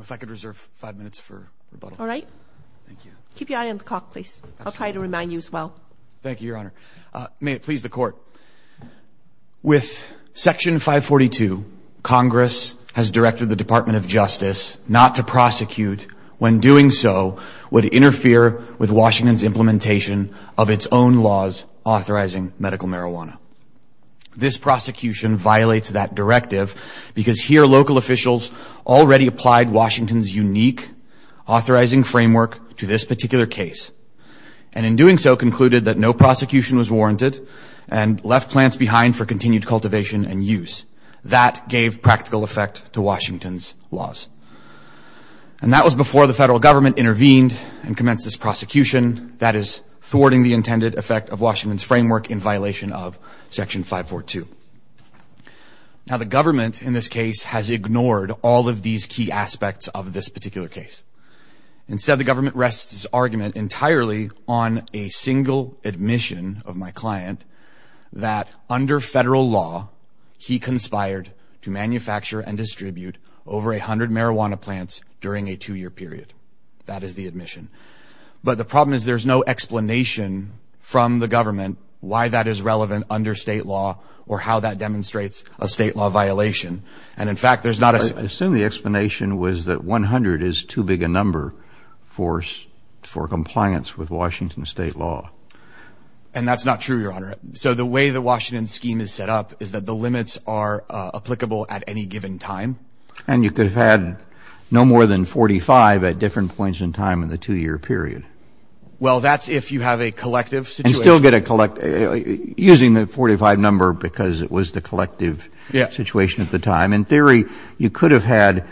If I could reserve five minutes for rebuttal. All right. Thank you. Keep your eye on the clock, please. I'll try to remind you as well. Thank you, Your Honor. May it please the Court. With Section 542, Congress has directed the Department of Justice not to prosecute when doing so would interfere with Washington's implementation of its own laws authorizing medical marijuana. This prosecution violates that directive because here local officials already applied Washington's unique authorizing framework to this particular case and in doing so concluded that no prosecution was warranted and left plants behind for continued cultivation and use. That gave practical effect to Washington's laws. And that was before the federal government intervened and commenced this prosecution, that is, thwarting the intended effect of Washington's framework in violation of Section 542. Now, the government in this case has ignored all of these key aspects of this particular case. Instead, the government rests its argument entirely on a single admission of my client that under federal law, he conspired to manufacture and distribute over 100 marijuana plants during a two-year period. That is the admission. But the problem is there's no explanation from the government why that is relevant under state law or how that demonstrates a state law violation. And, in fact, there's not a... I assume the explanation was that 100 is too big a number for compliance with Washington state law. And that's not true, Your Honor. So the way the Washington scheme is set up is that the limits are applicable at any given time. And you could have had no more than 45 at different points in time in the two-year period. Well, that's if you have a collective situation. And still get a collect... using the 45 number because it was the collective situation at the time. In theory, you could have had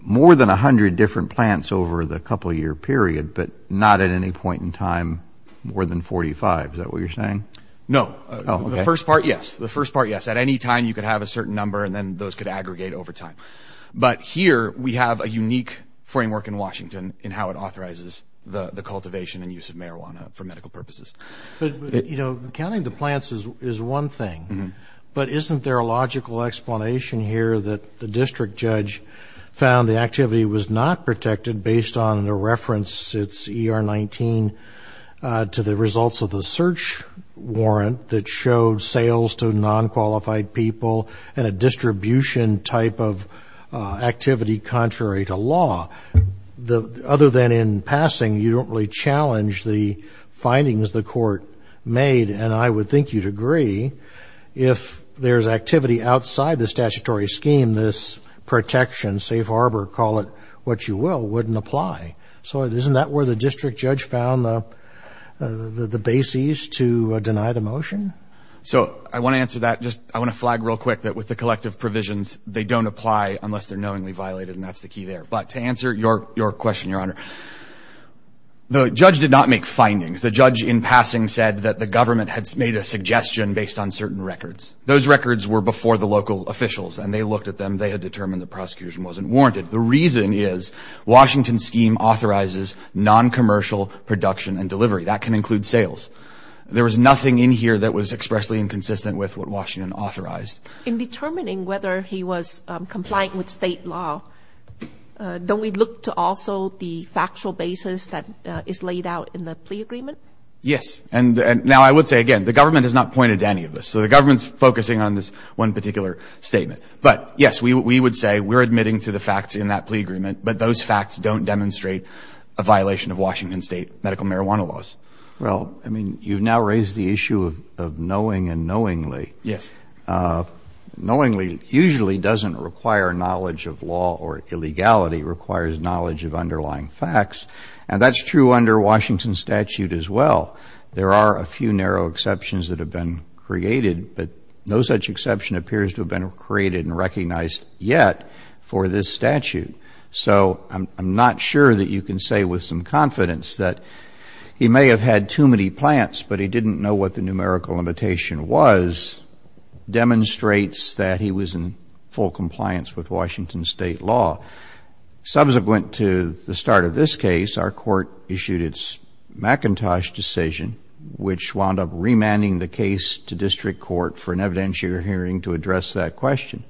more than 100 different plants over the couple-year period, but not at any point in time more than 45. Is that what you're saying? No. Oh, okay. The first part, yes. The first part, yes. At any time, you could have a certain number, and then those could aggregate over time. But here we have a unique framework in Washington in how it authorizes the cultivation and use of marijuana for medical purposes. But, you know, counting the plants is one thing. But isn't there a logical explanation here that the district judge found the activity was not protected based on the reference, it's ER-19, to the results of the search warrant that showed sales to non-qualified people and a distribution type of activity contrary to law? Other than in passing, you don't really challenge the findings the court made. And I would think you'd agree if there's activity outside the statutory scheme, then this protection, safe harbor, call it what you will, wouldn't apply. So isn't that where the district judge found the bases to deny the motion? So I want to answer that. I want to flag real quick that with the collective provisions, they don't apply unless they're knowingly violated, and that's the key there. But to answer your question, Your Honor, the judge did not make findings. The judge in passing said that the government had made a suggestion based on certain records. Those records were before the local officials, and they looked at them. They had determined the prosecution wasn't warranted. The reason is Washington's scheme authorizes noncommercial production and delivery. That can include sales. There was nothing in here that was expressly inconsistent with what Washington authorized. In determining whether he was compliant with state law, don't we look to also the factual basis that is laid out in the plea agreement? Yes. And now I would say, again, the government has not pointed to any of this. So the government is focusing on this one particular statement. But, yes, we would say we're admitting to the facts in that plea agreement, but those facts don't demonstrate a violation of Washington State medical marijuana laws. Well, I mean, you've now raised the issue of knowing and knowingly. Yes. Knowingly usually doesn't require knowledge of law or illegality. It requires knowledge of underlying facts. And that's true under Washington statute as well. There are a few narrow exceptions that have been created, but no such exception appears to have been created and recognized yet for this statute. So I'm not sure that you can say with some confidence that he may have had too many plants, but he didn't know what the numerical limitation was, demonstrates that he was in full compliance with Washington State law. Subsequent to the start of this case, our court issued its McIntosh decision, which wound up remanding the case to district court for an evidentiary hearing to address that question.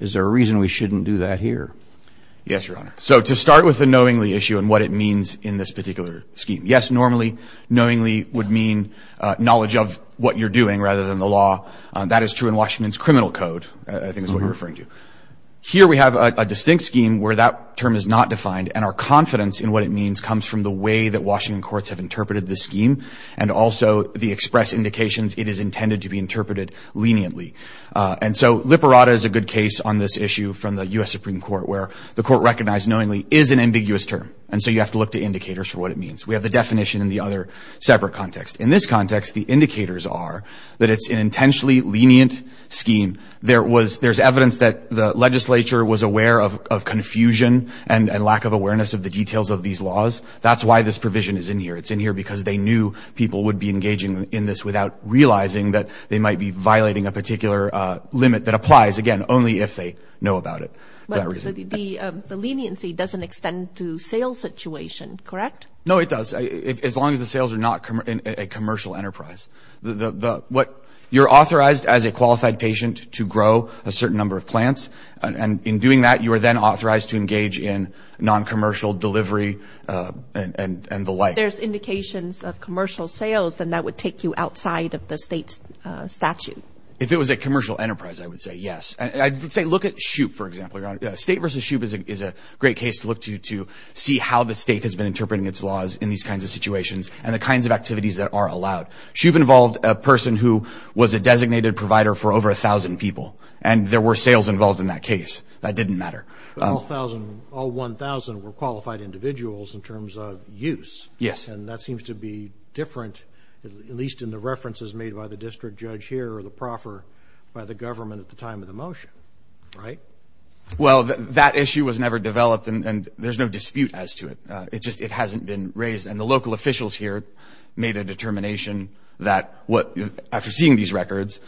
Is there a reason we shouldn't do that here? Yes, Your Honor. So to start with the knowingly issue and what it means in this particular scheme, yes, normally knowingly would mean knowledge of what you're doing rather than the law. That is true in Washington's criminal code, I think is what you're referring to. Here we have a distinct scheme where that term is not defined and our confidence in what it means comes from the way that Washington courts have interpreted the scheme and also the express indications it is intended to be interpreted leniently. And so liberata is a good case on this issue from the U.S. Supreme Court where the court recognized knowingly is an ambiguous term, and so you have to look to indicators for what it means. We have the definition in the other separate context. In this context, the indicators are that it's an intentionally lenient scheme. There's evidence that the legislature was aware of confusion and lack of awareness of the details of these laws. That's why this provision is in here. It's in here because they knew people would be engaging in this without realizing that they might be violating a particular limit that applies, again, only if they know about it. The leniency doesn't extend to sales situation, correct? No, it does, as long as the sales are not a commercial enterprise. You're authorized as a qualified patient to grow a certain number of plants, and in doing that, you are then authorized to engage in noncommercial delivery and the like. If there's indications of commercial sales, then that would take you outside of the state's statute. If it was a commercial enterprise, I would say yes. I would say look at SHOOP, for example, Your Honor. State versus SHOOP is a great case to look to to see how the state has been interpreting its laws in these kinds of situations and the kinds of activities that are allowed. SHOOP involved a person who was a designated provider for over 1,000 people, and there were sales involved in that case. That didn't matter. But all 1,000 were qualified individuals in terms of use. Yes. And that seems to be different, at least in the references made by the district judge here or the proffer by the government at the time of the motion, right? Well, that issue was never developed, and there's no dispute as to it. It just hasn't been raised. And the local officials here made a determination that after seeing these records,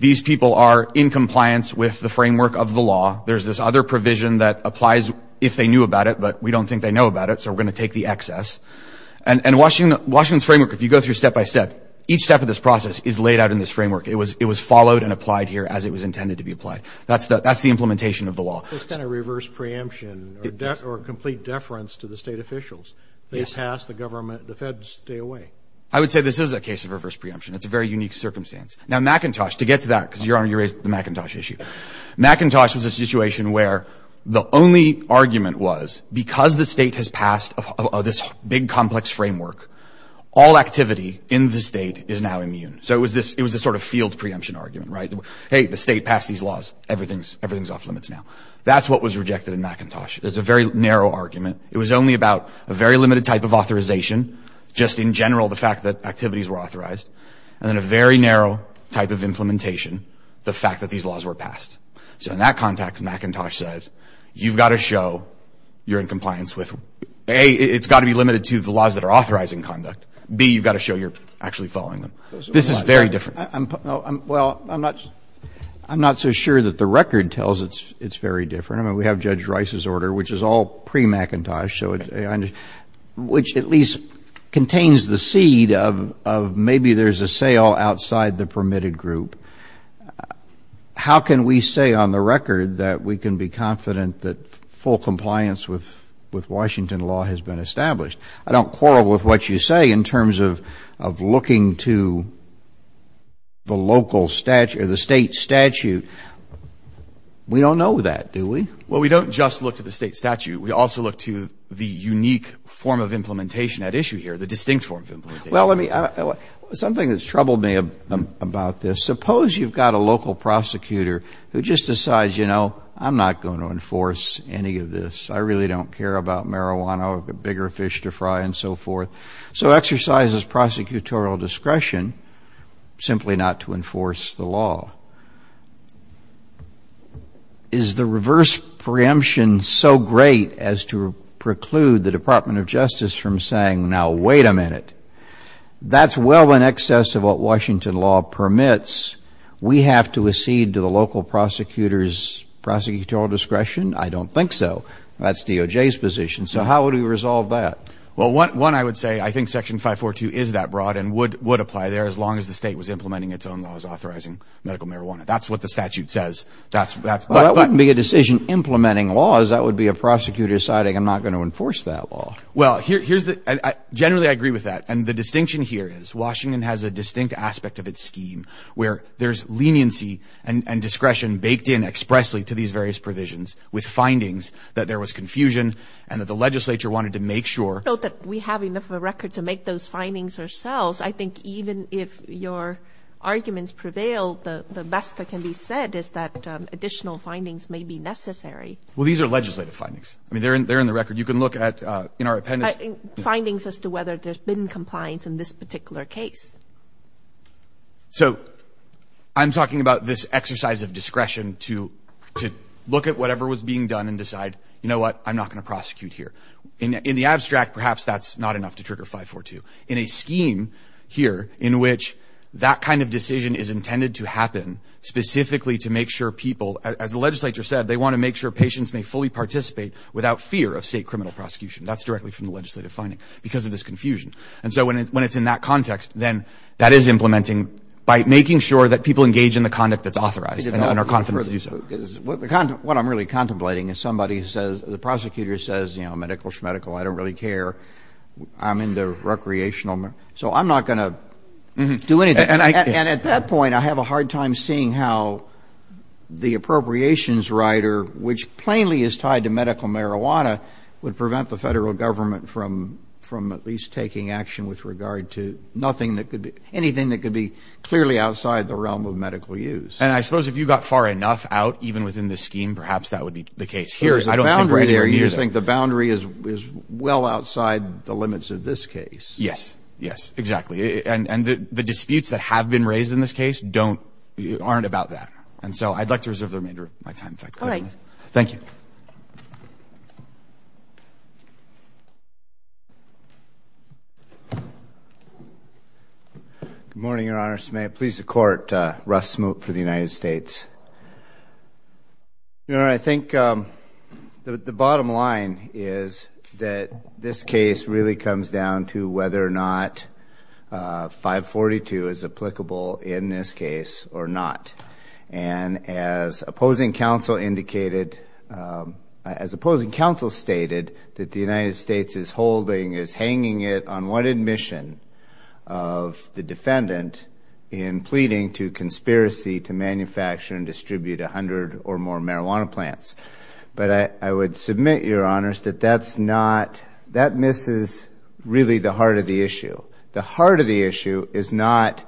these people are in compliance with the framework of the law. There's this other provision that applies if they knew about it, but we don't think they know about it, so we're going to take the excess. And Washington's framework, if you go through step by step, each step of this process is laid out in this framework. It was followed and applied here as it was intended to be applied. That's the implementation of the law. What about this kind of reverse preemption or complete deference to the state officials? They pass the government. The feds stay away. I would say this is a case of reverse preemption. It's a very unique circumstance. Now, McIntosh, to get to that, because, Your Honor, you raised the McIntosh issue. McIntosh was a situation where the only argument was because the state has passed this big, complex framework, all activity in the state is now immune. So it was this sort of field preemption argument, right? Hey, the state passed these laws. Everything's off limits now. That's what was rejected in McIntosh. It was a very narrow argument. It was only about a very limited type of authorization, just in general the fact that activities were authorized, and then a very narrow type of implementation, the fact that these laws were passed. So in that context, McIntosh says you've got to show you're in compliance with, A, it's got to be limited to the laws that are authorizing conduct. B, you've got to show you're actually following them. This is very different. Well, I'm not so sure that the record tells it's very different. I mean, we have Judge Rice's order, which is all pre-McIntosh, which at least contains the seed of maybe there's a sale outside the permitted group. How can we say on the record that we can be confident that full compliance with Washington law has been established? I don't quarrel with what you say in terms of looking to the local statute or the State statute. We don't know that, do we? Well, we don't just look to the State statute. We also look to the unique form of implementation at issue here, the distinct form of implementation. Well, something that's troubled me about this, suppose you've got a local prosecutor who just decides, you know, I'm not going to enforce any of this. I really don't care about marijuana or the bigger fish to fry and so forth. So exercises prosecutorial discretion simply not to enforce the law. Is the reverse preemption so great as to preclude the Department of Justice from saying, now, wait a minute, that's well in excess of what Washington law permits. We have to accede to the local prosecutor's prosecutorial discretion? I don't think so. That's DOJ's position. So how would we resolve that? Well, one, I would say I think Section 542 is that broad and would apply there as long as the State was implementing its own laws authorizing medical marijuana. That's what the statute says. Well, that wouldn't be a decision implementing laws. That would be a prosecutor deciding I'm not going to enforce that law. Well, generally I agree with that. And the distinction here is Washington has a distinct aspect of its scheme where there's leniency and discretion baked in expressly to these various provisions. With findings that there was confusion and that the legislature wanted to make sure. Note that we have enough of a record to make those findings ourselves. I think even if your arguments prevail, the best that can be said is that additional findings may be necessary. Well, these are legislative findings. I mean, they're in the record. You can look at in our appendix. Findings as to whether there's been compliance in this particular case. So I'm talking about this exercise of discretion to look at whatever was being done and decide, you know what, I'm not going to prosecute here. In the abstract, perhaps that's not enough to trigger 542. In a scheme here in which that kind of decision is intended to happen specifically to make sure people, as the legislature said, they want to make sure patients may fully participate without fear of state criminal prosecution. That's directly from the legislative finding because of this confusion. And so when it's in that context, then that is implementing by making sure that people engage in the conduct that's authorized and are confident to do so. What I'm really contemplating is somebody says, the prosecutor says, you know, medical schmedical, I don't really care. I'm into recreational. So I'm not going to do anything. And at that point, I have a hard time seeing how the appropriations rider, which plainly is tied to medical marijuana, would prevent the Federal Government from at least taking action with regard to nothing that could be, anything that could be clearly outside the realm of medical use. And I suppose if you got far enough out, even within this scheme, perhaps that would be the case here. There's a boundary there. You think the boundary is well outside the limits of this case. Yes. Yes, exactly. And the disputes that have been raised in this case don't, aren't about that. And so I'd like to reserve the remainder of my time. All right. Thank you. Good morning, Your Honor. May it please the Court. Russ Smoot for the United States. Your Honor, I think the bottom line is that this case really comes down to whether or not 542 is applicable in this case or not. And as opposing counsel indicated, as opposing counsel stated, that the United States is holding, is hanging it on one admission of the defendant in pleading to conspiracy to manufacture and distribute 100 or more marijuana plants. But I would submit, Your Honors, that that's not, that misses really the heart of the issue. The heart of the issue is not,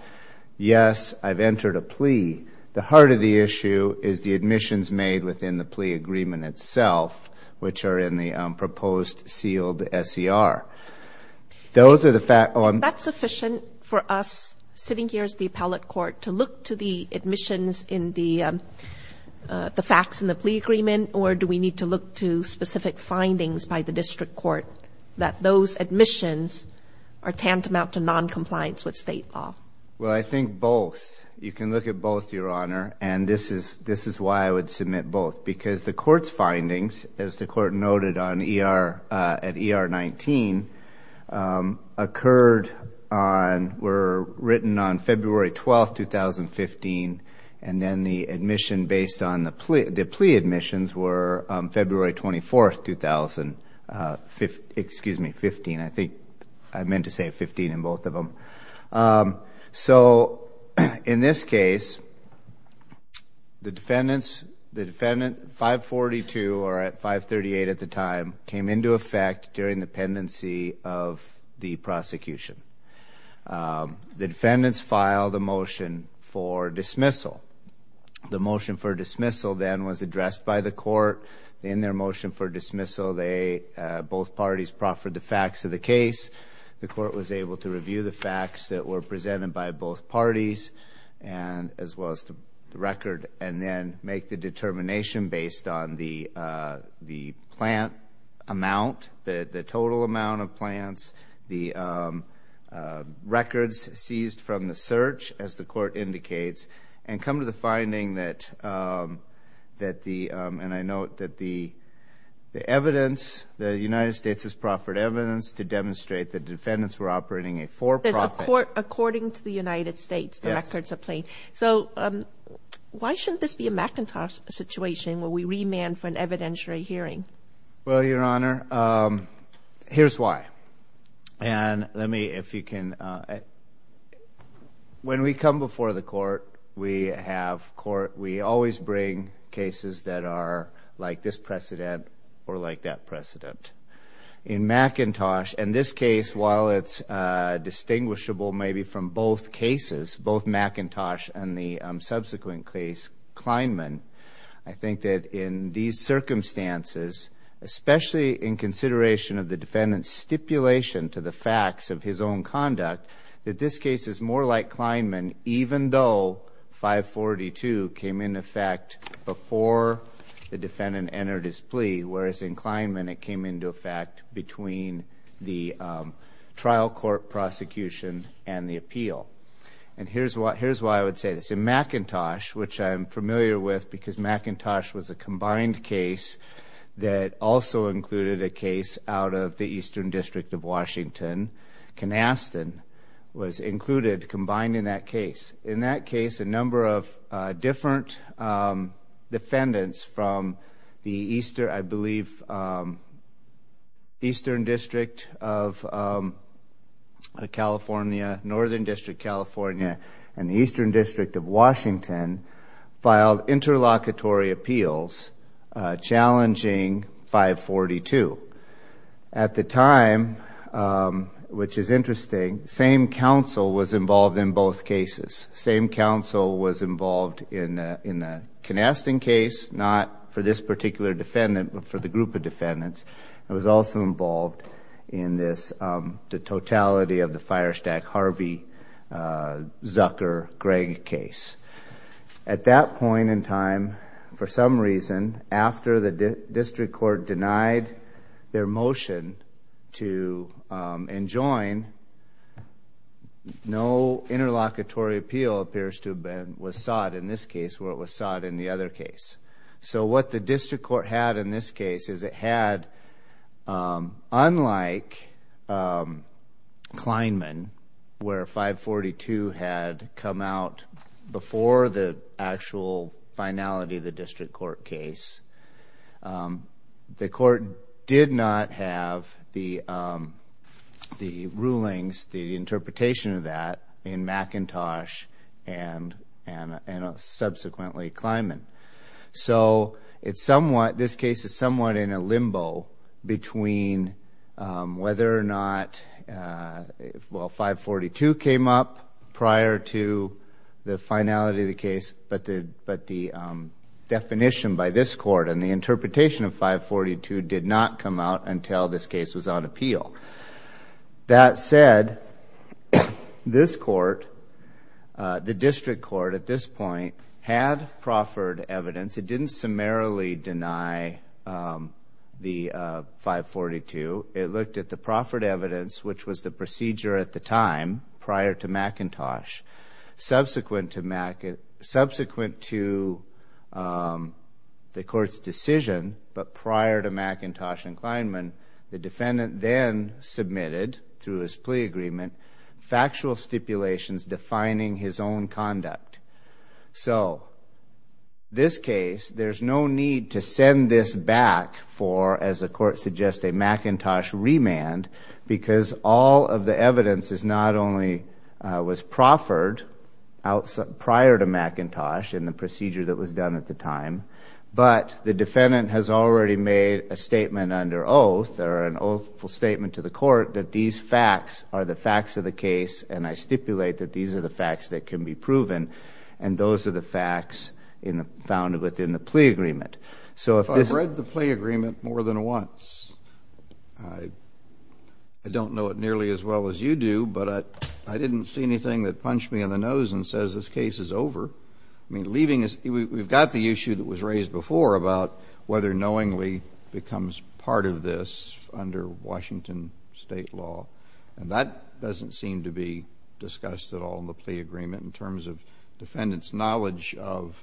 yes, I've entered a plea. The heart of the issue is the admissions made within the plea agreement itself, which are in the proposed sealed SCR. Those are the facts. Is that sufficient for us, sitting here as the appellate court, to look to the admissions in the facts in the plea agreement, or do we need to look to specific findings by the district court that those admissions are tantamount to noncompliance with State law? Well, I think both. You can look at both, Your Honor. And this is why I would submit both. Because the court's findings, as the court noted at ER 19, occurred on, were written on February 12, 2015, and then the admission based on the plea admissions were February 24, 2015. I think I meant to say 15 in both of them. So in this case, the defendant, 542 or at 538 at the time, came into effect during the pendency of the prosecution. The defendants filed a motion for dismissal. The motion for dismissal then was addressed by the court. In their motion for dismissal, both parties proffered the facts of the case. The court was able to review the facts that were presented by both parties, as well as the record, and then make the determination based on the plant amount, the total amount of plants, the records seized from the search, as the court indicates, and come to the finding that the evidence, the United States has proffered evidence to demonstrate the defendants were operating a for-profit. According to the United States, the records are plain. So why shouldn't this be a McIntosh situation where we remand for an evidentiary hearing? Well, Your Honor, here's why. And let me, if you can, when we come before the court, we have court, we always bring cases that are like this precedent or like that precedent. In McIntosh, in this case, while it's distinguishable maybe from both cases, both McIntosh and the subsequent case, Kleinman, I think that in these circumstances, especially in consideration of the defendant's stipulation to the facts of his own conduct, that this case is more like Kleinman even though 542 came into effect before the defendant entered his plea, whereas in Kleinman it came into effect between the trial court prosecution and the appeal. And here's why I would say this. In McIntosh, which I'm familiar with because McIntosh was a combined case that also included a case out of the Eastern District of Washington, Canastan was included, combined in that case. In that case, a number of different defendants from the Eastern, I believe, Eastern District of California, Northern District of California, and the Eastern District of Washington filed interlocutory appeals, challenging 542. At the time, which is interesting, same counsel was involved in both cases. Same counsel was involved in the Canastan case, not for this particular defendant, but for the group of defendants, and was also involved in the totality of the Firestack-Harvey-Zucker-Greg case. At that point in time, for some reason, after the district court denied their motion to enjoin, no interlocutory appeal appears to have been sought in this case where it was sought in the other case. What the district court had in this case is it had, unlike Kleinman, where 542 had come out before the actual finality of the district court case, the court did not have the rulings, the interpretation of that, in McIntosh and subsequently Kleinman. So this case is somewhat in a limbo between whether or not 542 came up prior to the finality of the case, but the definition by this court and the interpretation of 542 did not come out until this case was on appeal. That said, this court, the district court at this point, had proffered evidence. It didn't summarily deny the 542. It looked at the proffered evidence, which was the procedure at the time prior to McIntosh, subsequent to the court's decision, but prior to McIntosh and Kleinman, the defendant then submitted, through his plea agreement, factual stipulations defining his own conduct. So this case, there's no need to send this back for, as the court suggests, a McIntosh remand, because all of the evidence not only was proffered prior to McIntosh in the procedure that was done at the time, but the defendant has already made a statement under oath or an oathful statement to the court that these facts are the facts of the case, and I stipulate that these are the facts that can be proven, and those are the facts found within the plea agreement. If I've read the plea agreement more than once, I don't know it nearly as well as you do, but I didn't see anything that punched me in the nose and says this case is over. We've got the issue that was raised before about whether knowingly becomes part of this under Washington state law, and that doesn't seem to be discussed at all in the plea agreement in terms of defendants' knowledge of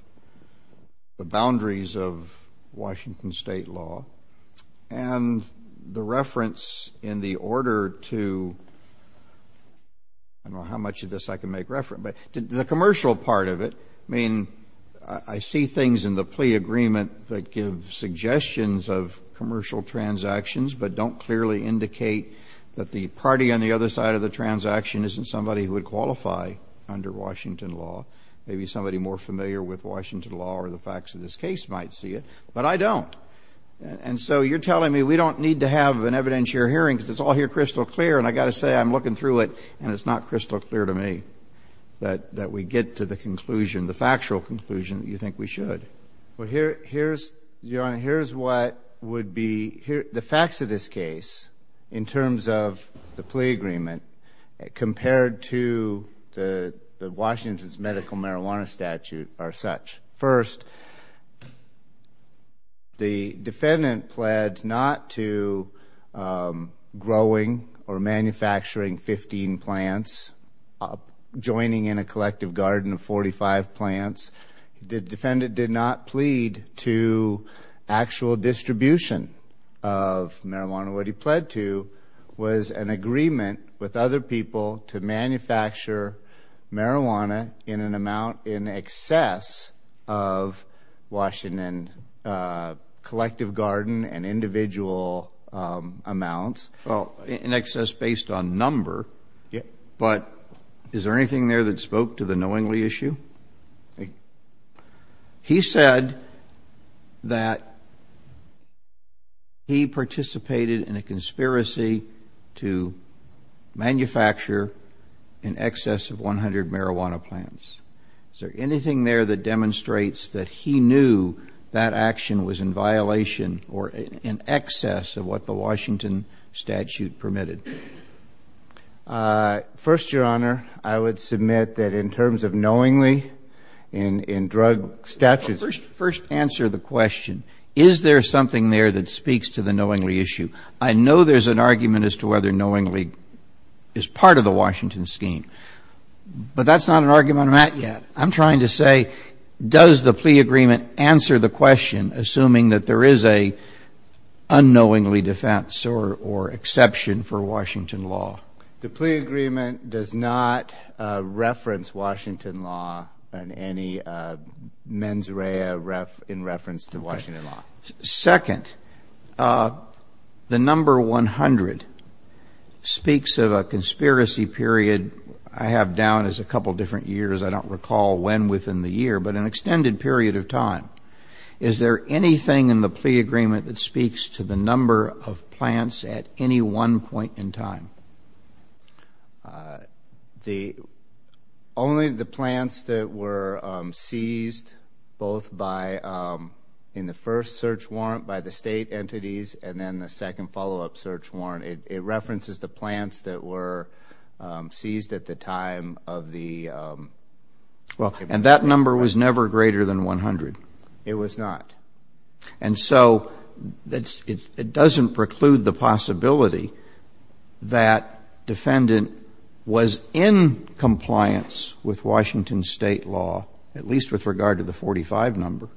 the boundaries of Washington state law. And the reference in the order to, I don't know how much of this I can make reference, but the commercial part of it, I mean, I see things in the plea agreement that give suggestions of commercial transactions but don't clearly indicate that the party on the other side of the transaction isn't somebody who would qualify under Washington law. Maybe somebody more familiar with Washington law or the facts of this case might see it, but I don't. And so you're telling me we don't need to have an evidentiary hearing because it's all here crystal clear, and I've got to say I'm looking through it and it's not crystal clear to me that we get to the conclusion, the factual conclusion that you think we should. Well, Your Honor, here's what would be the facts of this case in terms of the plea agreement compared to the Washington's medical marijuana statute are such. First, the defendant pled not to growing or manufacturing 15 plants, joining in a collective garden of 45 plants. The defendant did not plead to actual distribution of marijuana. What he pled to was an agreement with other people to manufacture marijuana in an amount in excess of Washington collective garden and individual amounts. Well, in excess based on number, but is there anything there that spoke to the knowingly issue? He said that he participated in a conspiracy to manufacture in excess of 100 marijuana plants. Is there anything there that demonstrates that he knew that action was in violation or in excess of what the Washington statute permitted? First, Your Honor, I would submit that in terms of knowingly in drug statutes First answer the question, is there something there that speaks to the knowingly issue? I know there's an argument as to whether knowingly is part of the Washington scheme, but that's not an argument I'm at yet. I'm trying to say does the plea agreement answer the question, assuming that there is a unknowingly defense or exception for Washington law? The plea agreement does not reference Washington law and any mens rea in reference to Washington law. Second, the number 100 speaks of a conspiracy period I have down as a couple different years. I don't recall when within the year, but an extended period of time. Is there anything in the plea agreement that speaks to the number of plants at any one point in time? Only the plants that were seized both in the first search warrant by the state entities and then the second follow-up search warrant. It references the plants that were seized at the time of the And that number was never greater than 100. It was not. And so it doesn't preclude the possibility that defendant was in compliance with Washington state law, at least with regard to the 45 number,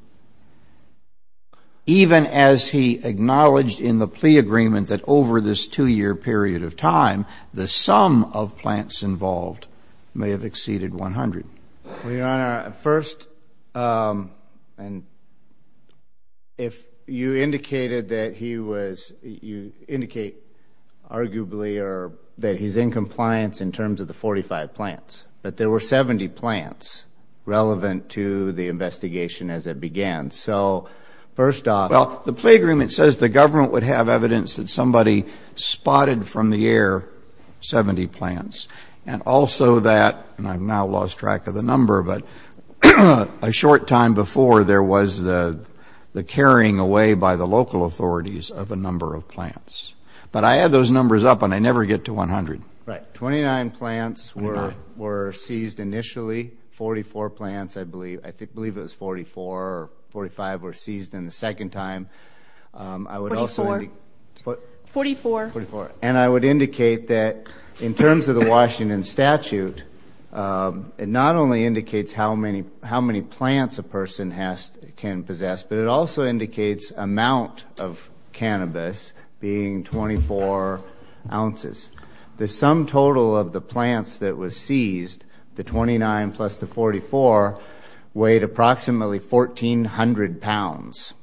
even as he acknowledged in the plea agreement that over this two-year period of time, the sum of plants involved may have exceeded 100. Well, Your Honor, first, if you indicated that he was, you indicate arguably that he's in compliance in terms of the 45 plants, but there were 70 plants relevant to the investigation as it began. So first off... Well, the plea agreement says the government would have evidence that somebody spotted from the air 70 plants. And also that, and I've now lost track of the number, but a short time before there was the carrying away by the local authorities of a number of plants. But I had those numbers up, and I never get to 100. Right. 29 plants were seized initially. 44 plants, I believe. I believe it was 44 or 45 were seized in the second time. I would also... 44. 44. And I would indicate that in terms of the Washington statute, it not only indicates how many plants a person can possess, but it also indicates amount of cannabis being 24 ounces. The sum total of the plants that was seized, the 29 plus the 44, weighed approximately 1,400 pounds.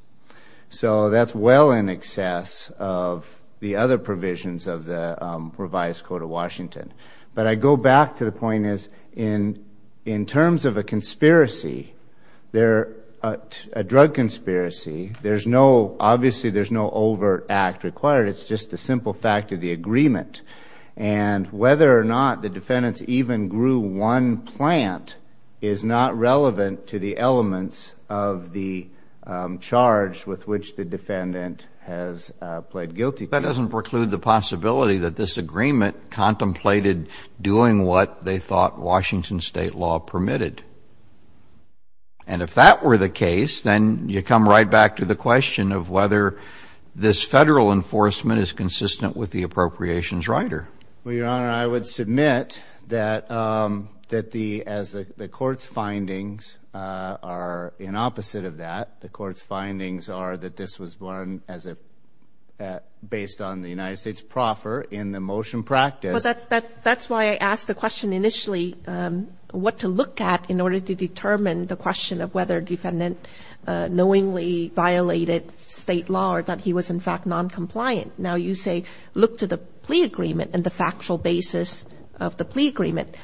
So that's well in excess of the other provisions of the revised code of Washington. But I go back to the point is in terms of a drug conspiracy, obviously there's no overt act required. It's just the simple fact of the agreement. And whether or not the defendants even grew one plant is not relevant to the elements of the charge with which the defendant has pled guilty. That doesn't preclude the possibility that this agreement contemplated doing what they thought Washington state law permitted. And if that were the case, then you come right back to the question of whether this federal enforcement is consistent with the appropriations rider. Well, Your Honor, I would submit that the court's findings are in opposite of that. The court's findings are that this was one based on the United States proffer in the motion practice. So that's why I asked the question initially, what to look at in order to determine the question of whether defendant knowingly violated state law or that he was in fact noncompliant. Now you say look to the plea agreement and the factual basis of the plea agreement.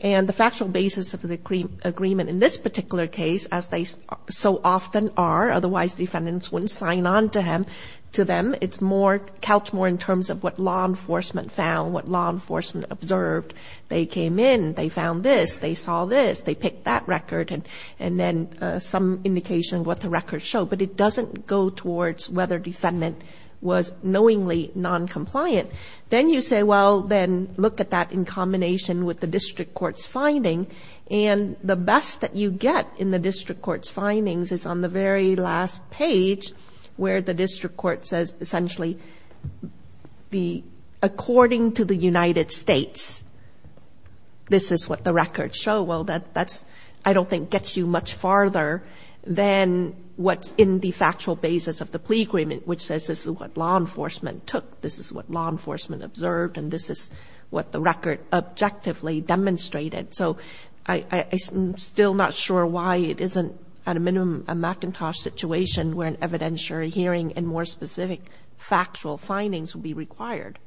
And the factual basis of the agreement in this particular case, as they so often are, otherwise defendants wouldn't sign on to them. It's more couched more in terms of what law enforcement found, what law enforcement observed. They came in, they found this, they saw this, they picked that record, and then some indication of what the record showed. But it doesn't go towards whether defendant was knowingly noncompliant. Then you say, well, then look at that in combination with the district court's finding. And the best that you get in the district court's findings is on the very last page where the district court says essentially according to the United States, this is what the records show. Well, that I don't think gets you much farther than what's in the factual basis of the plea agreement, which says this is what law enforcement took, this is what law enforcement observed, and this is what the record objectively demonstrated. So I'm still not sure why it isn't at a minimum a McIntosh situation where an evidentiary hearing and more specific factual findings would be required.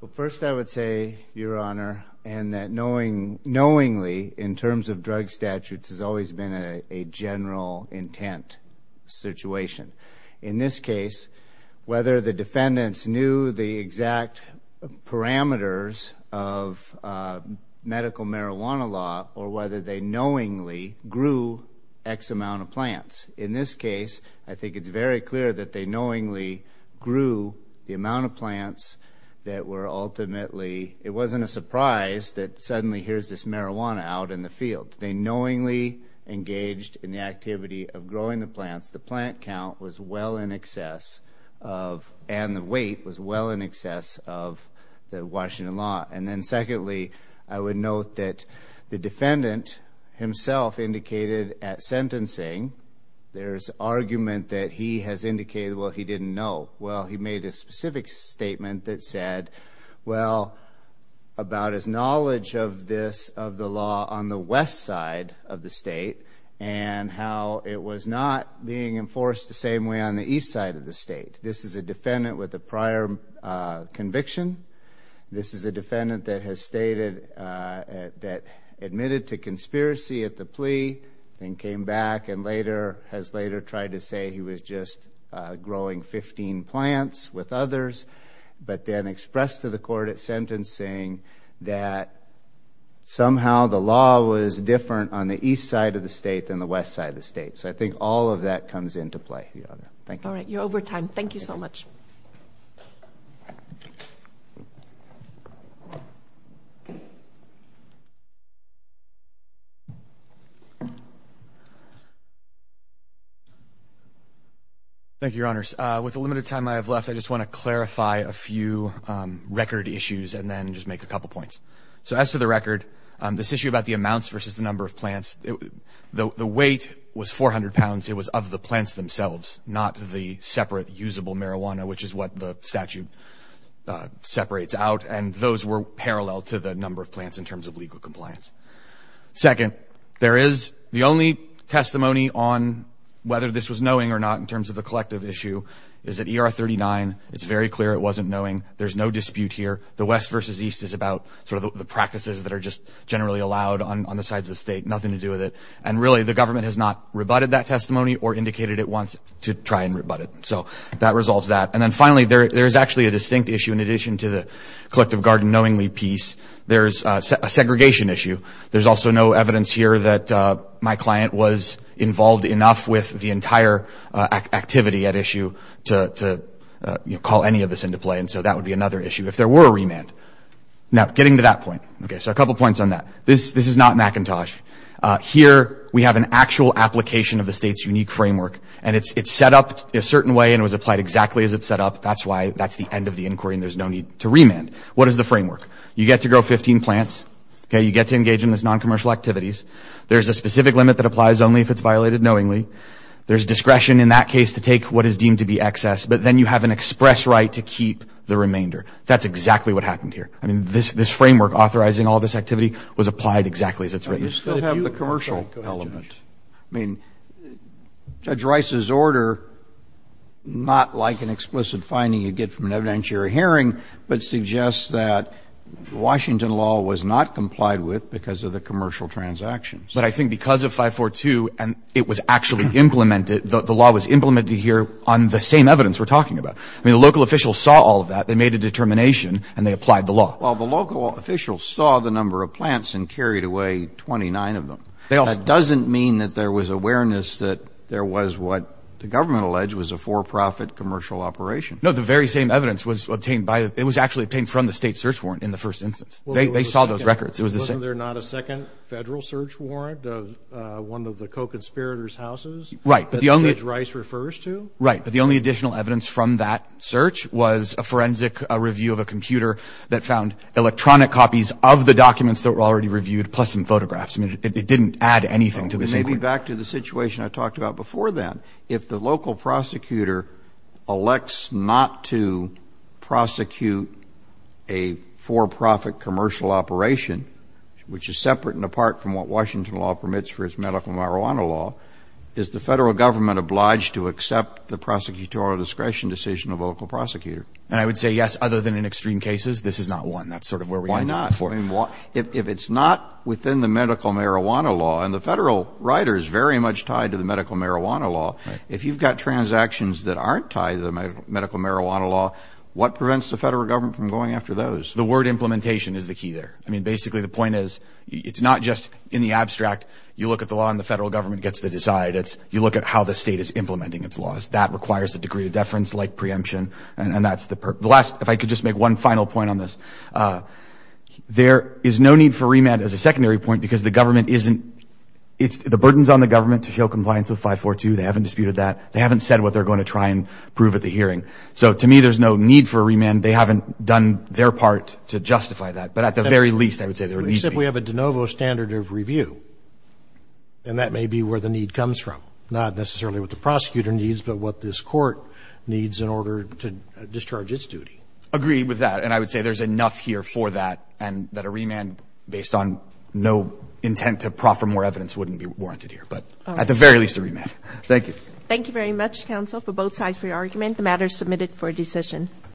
Well, first I would say, Your Honor, and that knowingly in terms of drug statutes has always been a general intent situation. In this case, whether the defendants knew the exact parameters of medical marijuana law or whether they knowingly grew X amount of plants. In this case, I think it's very clear that they knowingly grew the amount of plants that were ultimately, it wasn't a surprise that suddenly here's this marijuana out in the field. They knowingly engaged in the activity of growing the plants. The plant count was well in excess of, and the weight was well in excess of, the Washington law. And then secondly, I would note that the defendant himself indicated at sentencing there's argument that he has indicated, well, he didn't know. Well, he made a specific statement that said, well, about his knowledge of this, of the law on the west side of the state, and how it was not being enforced the same way on the east side of the state. This is a defendant with a prior conviction. This is a defendant that has stated that admitted to conspiracy at the plea and came back and later has later tried to say he was just growing 15 plants with others, but then expressed to the court at sentencing that somehow the law was different on the east side of the state than the west side of the state. So I think all of that comes into play here. Thank you. All right, you're over time. Thank you so much. Thank you, Your Honors. With the limited time I have left, I just want to clarify a few record issues and then just make a couple points. So as to the record, this issue about the amounts versus the number of plants, the weight was 400 pounds. It was of the plants themselves, not the separate usable marijuana, which is what the statute separates out, and those were parallel to the number of plants in terms of legal compliance. Second, there is the only testimony on whether this was knowing or not in terms of the collective issue is at ER 39. It's very clear it wasn't knowing. There's no dispute here. The west versus east is about sort of the practices that are just generally allowed on the sides of the state, nothing to do with it, and really the government has not rebutted that testimony or indicated it wants to try and rebut it. So that resolves that. And then finally, there is actually a distinct issue in addition to the collective garden knowingly piece. There's a segregation issue. There's also no evidence here that my client was involved enough with the entire activity at issue to call any of this into play, and so that would be another issue if there were a remand. Now, getting to that point. Okay, so a couple points on that. This is not Macintosh. Here we have an actual application of the state's unique framework, and it's set up a certain way and it was applied exactly as it's set up. That's why that's the end of the inquiry and there's no need to remand. What is the framework? You get to grow 15 plants. You get to engage in those noncommercial activities. There's a specific limit that applies only if it's violated knowingly. There's discretion in that case to take what is deemed to be excess, but then you have an express right to keep the remainder. That's exactly what happened here. I mean, this framework authorizing all this activity was applied exactly as it's written. You still have the commercial element. I mean, Judge Rice's order, not like an explicit finding you get from an evidentiary but suggests that Washington law was not complied with because of the commercial transactions. But I think because of 542 and it was actually implemented, the law was implemented here on the same evidence we're talking about. I mean, the local officials saw all of that. They made a determination and they applied the law. Well, the local officials saw the number of plants and carried away 29 of them. That doesn't mean that there was awareness that there was what the government alleged was a for-profit commercial operation. No, the very same evidence was obtained by the – it was actually obtained from the state search warrant in the first instance. They saw those records. It was the same. Wasn't there not a second federal search warrant of one of the co-conspirators' houses? Right. That Judge Rice refers to? Right. But the only additional evidence from that search was a forensic review of a computer that found electronic copies of the documents that were already reviewed plus some photographs. I mean, it didn't add anything to the sequence. Maybe back to the situation I talked about before then. If the local prosecutor elects not to prosecute a for-profit commercial operation, which is separate and apart from what Washington law permits for its medical marijuana law, is the federal government obliged to accept the prosecutorial discretion decision of a local prosecutor? And I would say yes, other than in extreme cases. This is not one. That's sort of where we end up. Why not? I mean, if it's not within the medical marijuana law, and the federal writer is very much tied to the medical marijuana law, if you've got transactions that aren't tied to the medical marijuana law, what prevents the federal government from going after those? The word implementation is the key there. I mean, basically the point is it's not just in the abstract. You look at the law and the federal government gets to decide. It's you look at how the state is implementing its laws. That requires a degree of deference like preemption, and that's the purpose. The last, if I could just make one final point on this. There is no need for remand as a secondary point because the government isn't, the burden is on the government to show compliance with 542. They haven't disputed that. They haven't said what they're going to try and prove at the hearing. So to me, there's no need for remand. They haven't done their part to justify that. But at the very least, I would say there needs to be. Except we have a de novo standard of review, and that may be where the need comes from, not necessarily what the prosecutor needs, but what this court needs in order to discharge its duty. Agreed with that. And I would say there's enough here for that and that a remand based on no intent to proffer more evidence wouldn't be warranted here. But at the very least, a remand. Thank you. Thank you very much, counsel, for both sides for your argument. The matter is submitted for decision.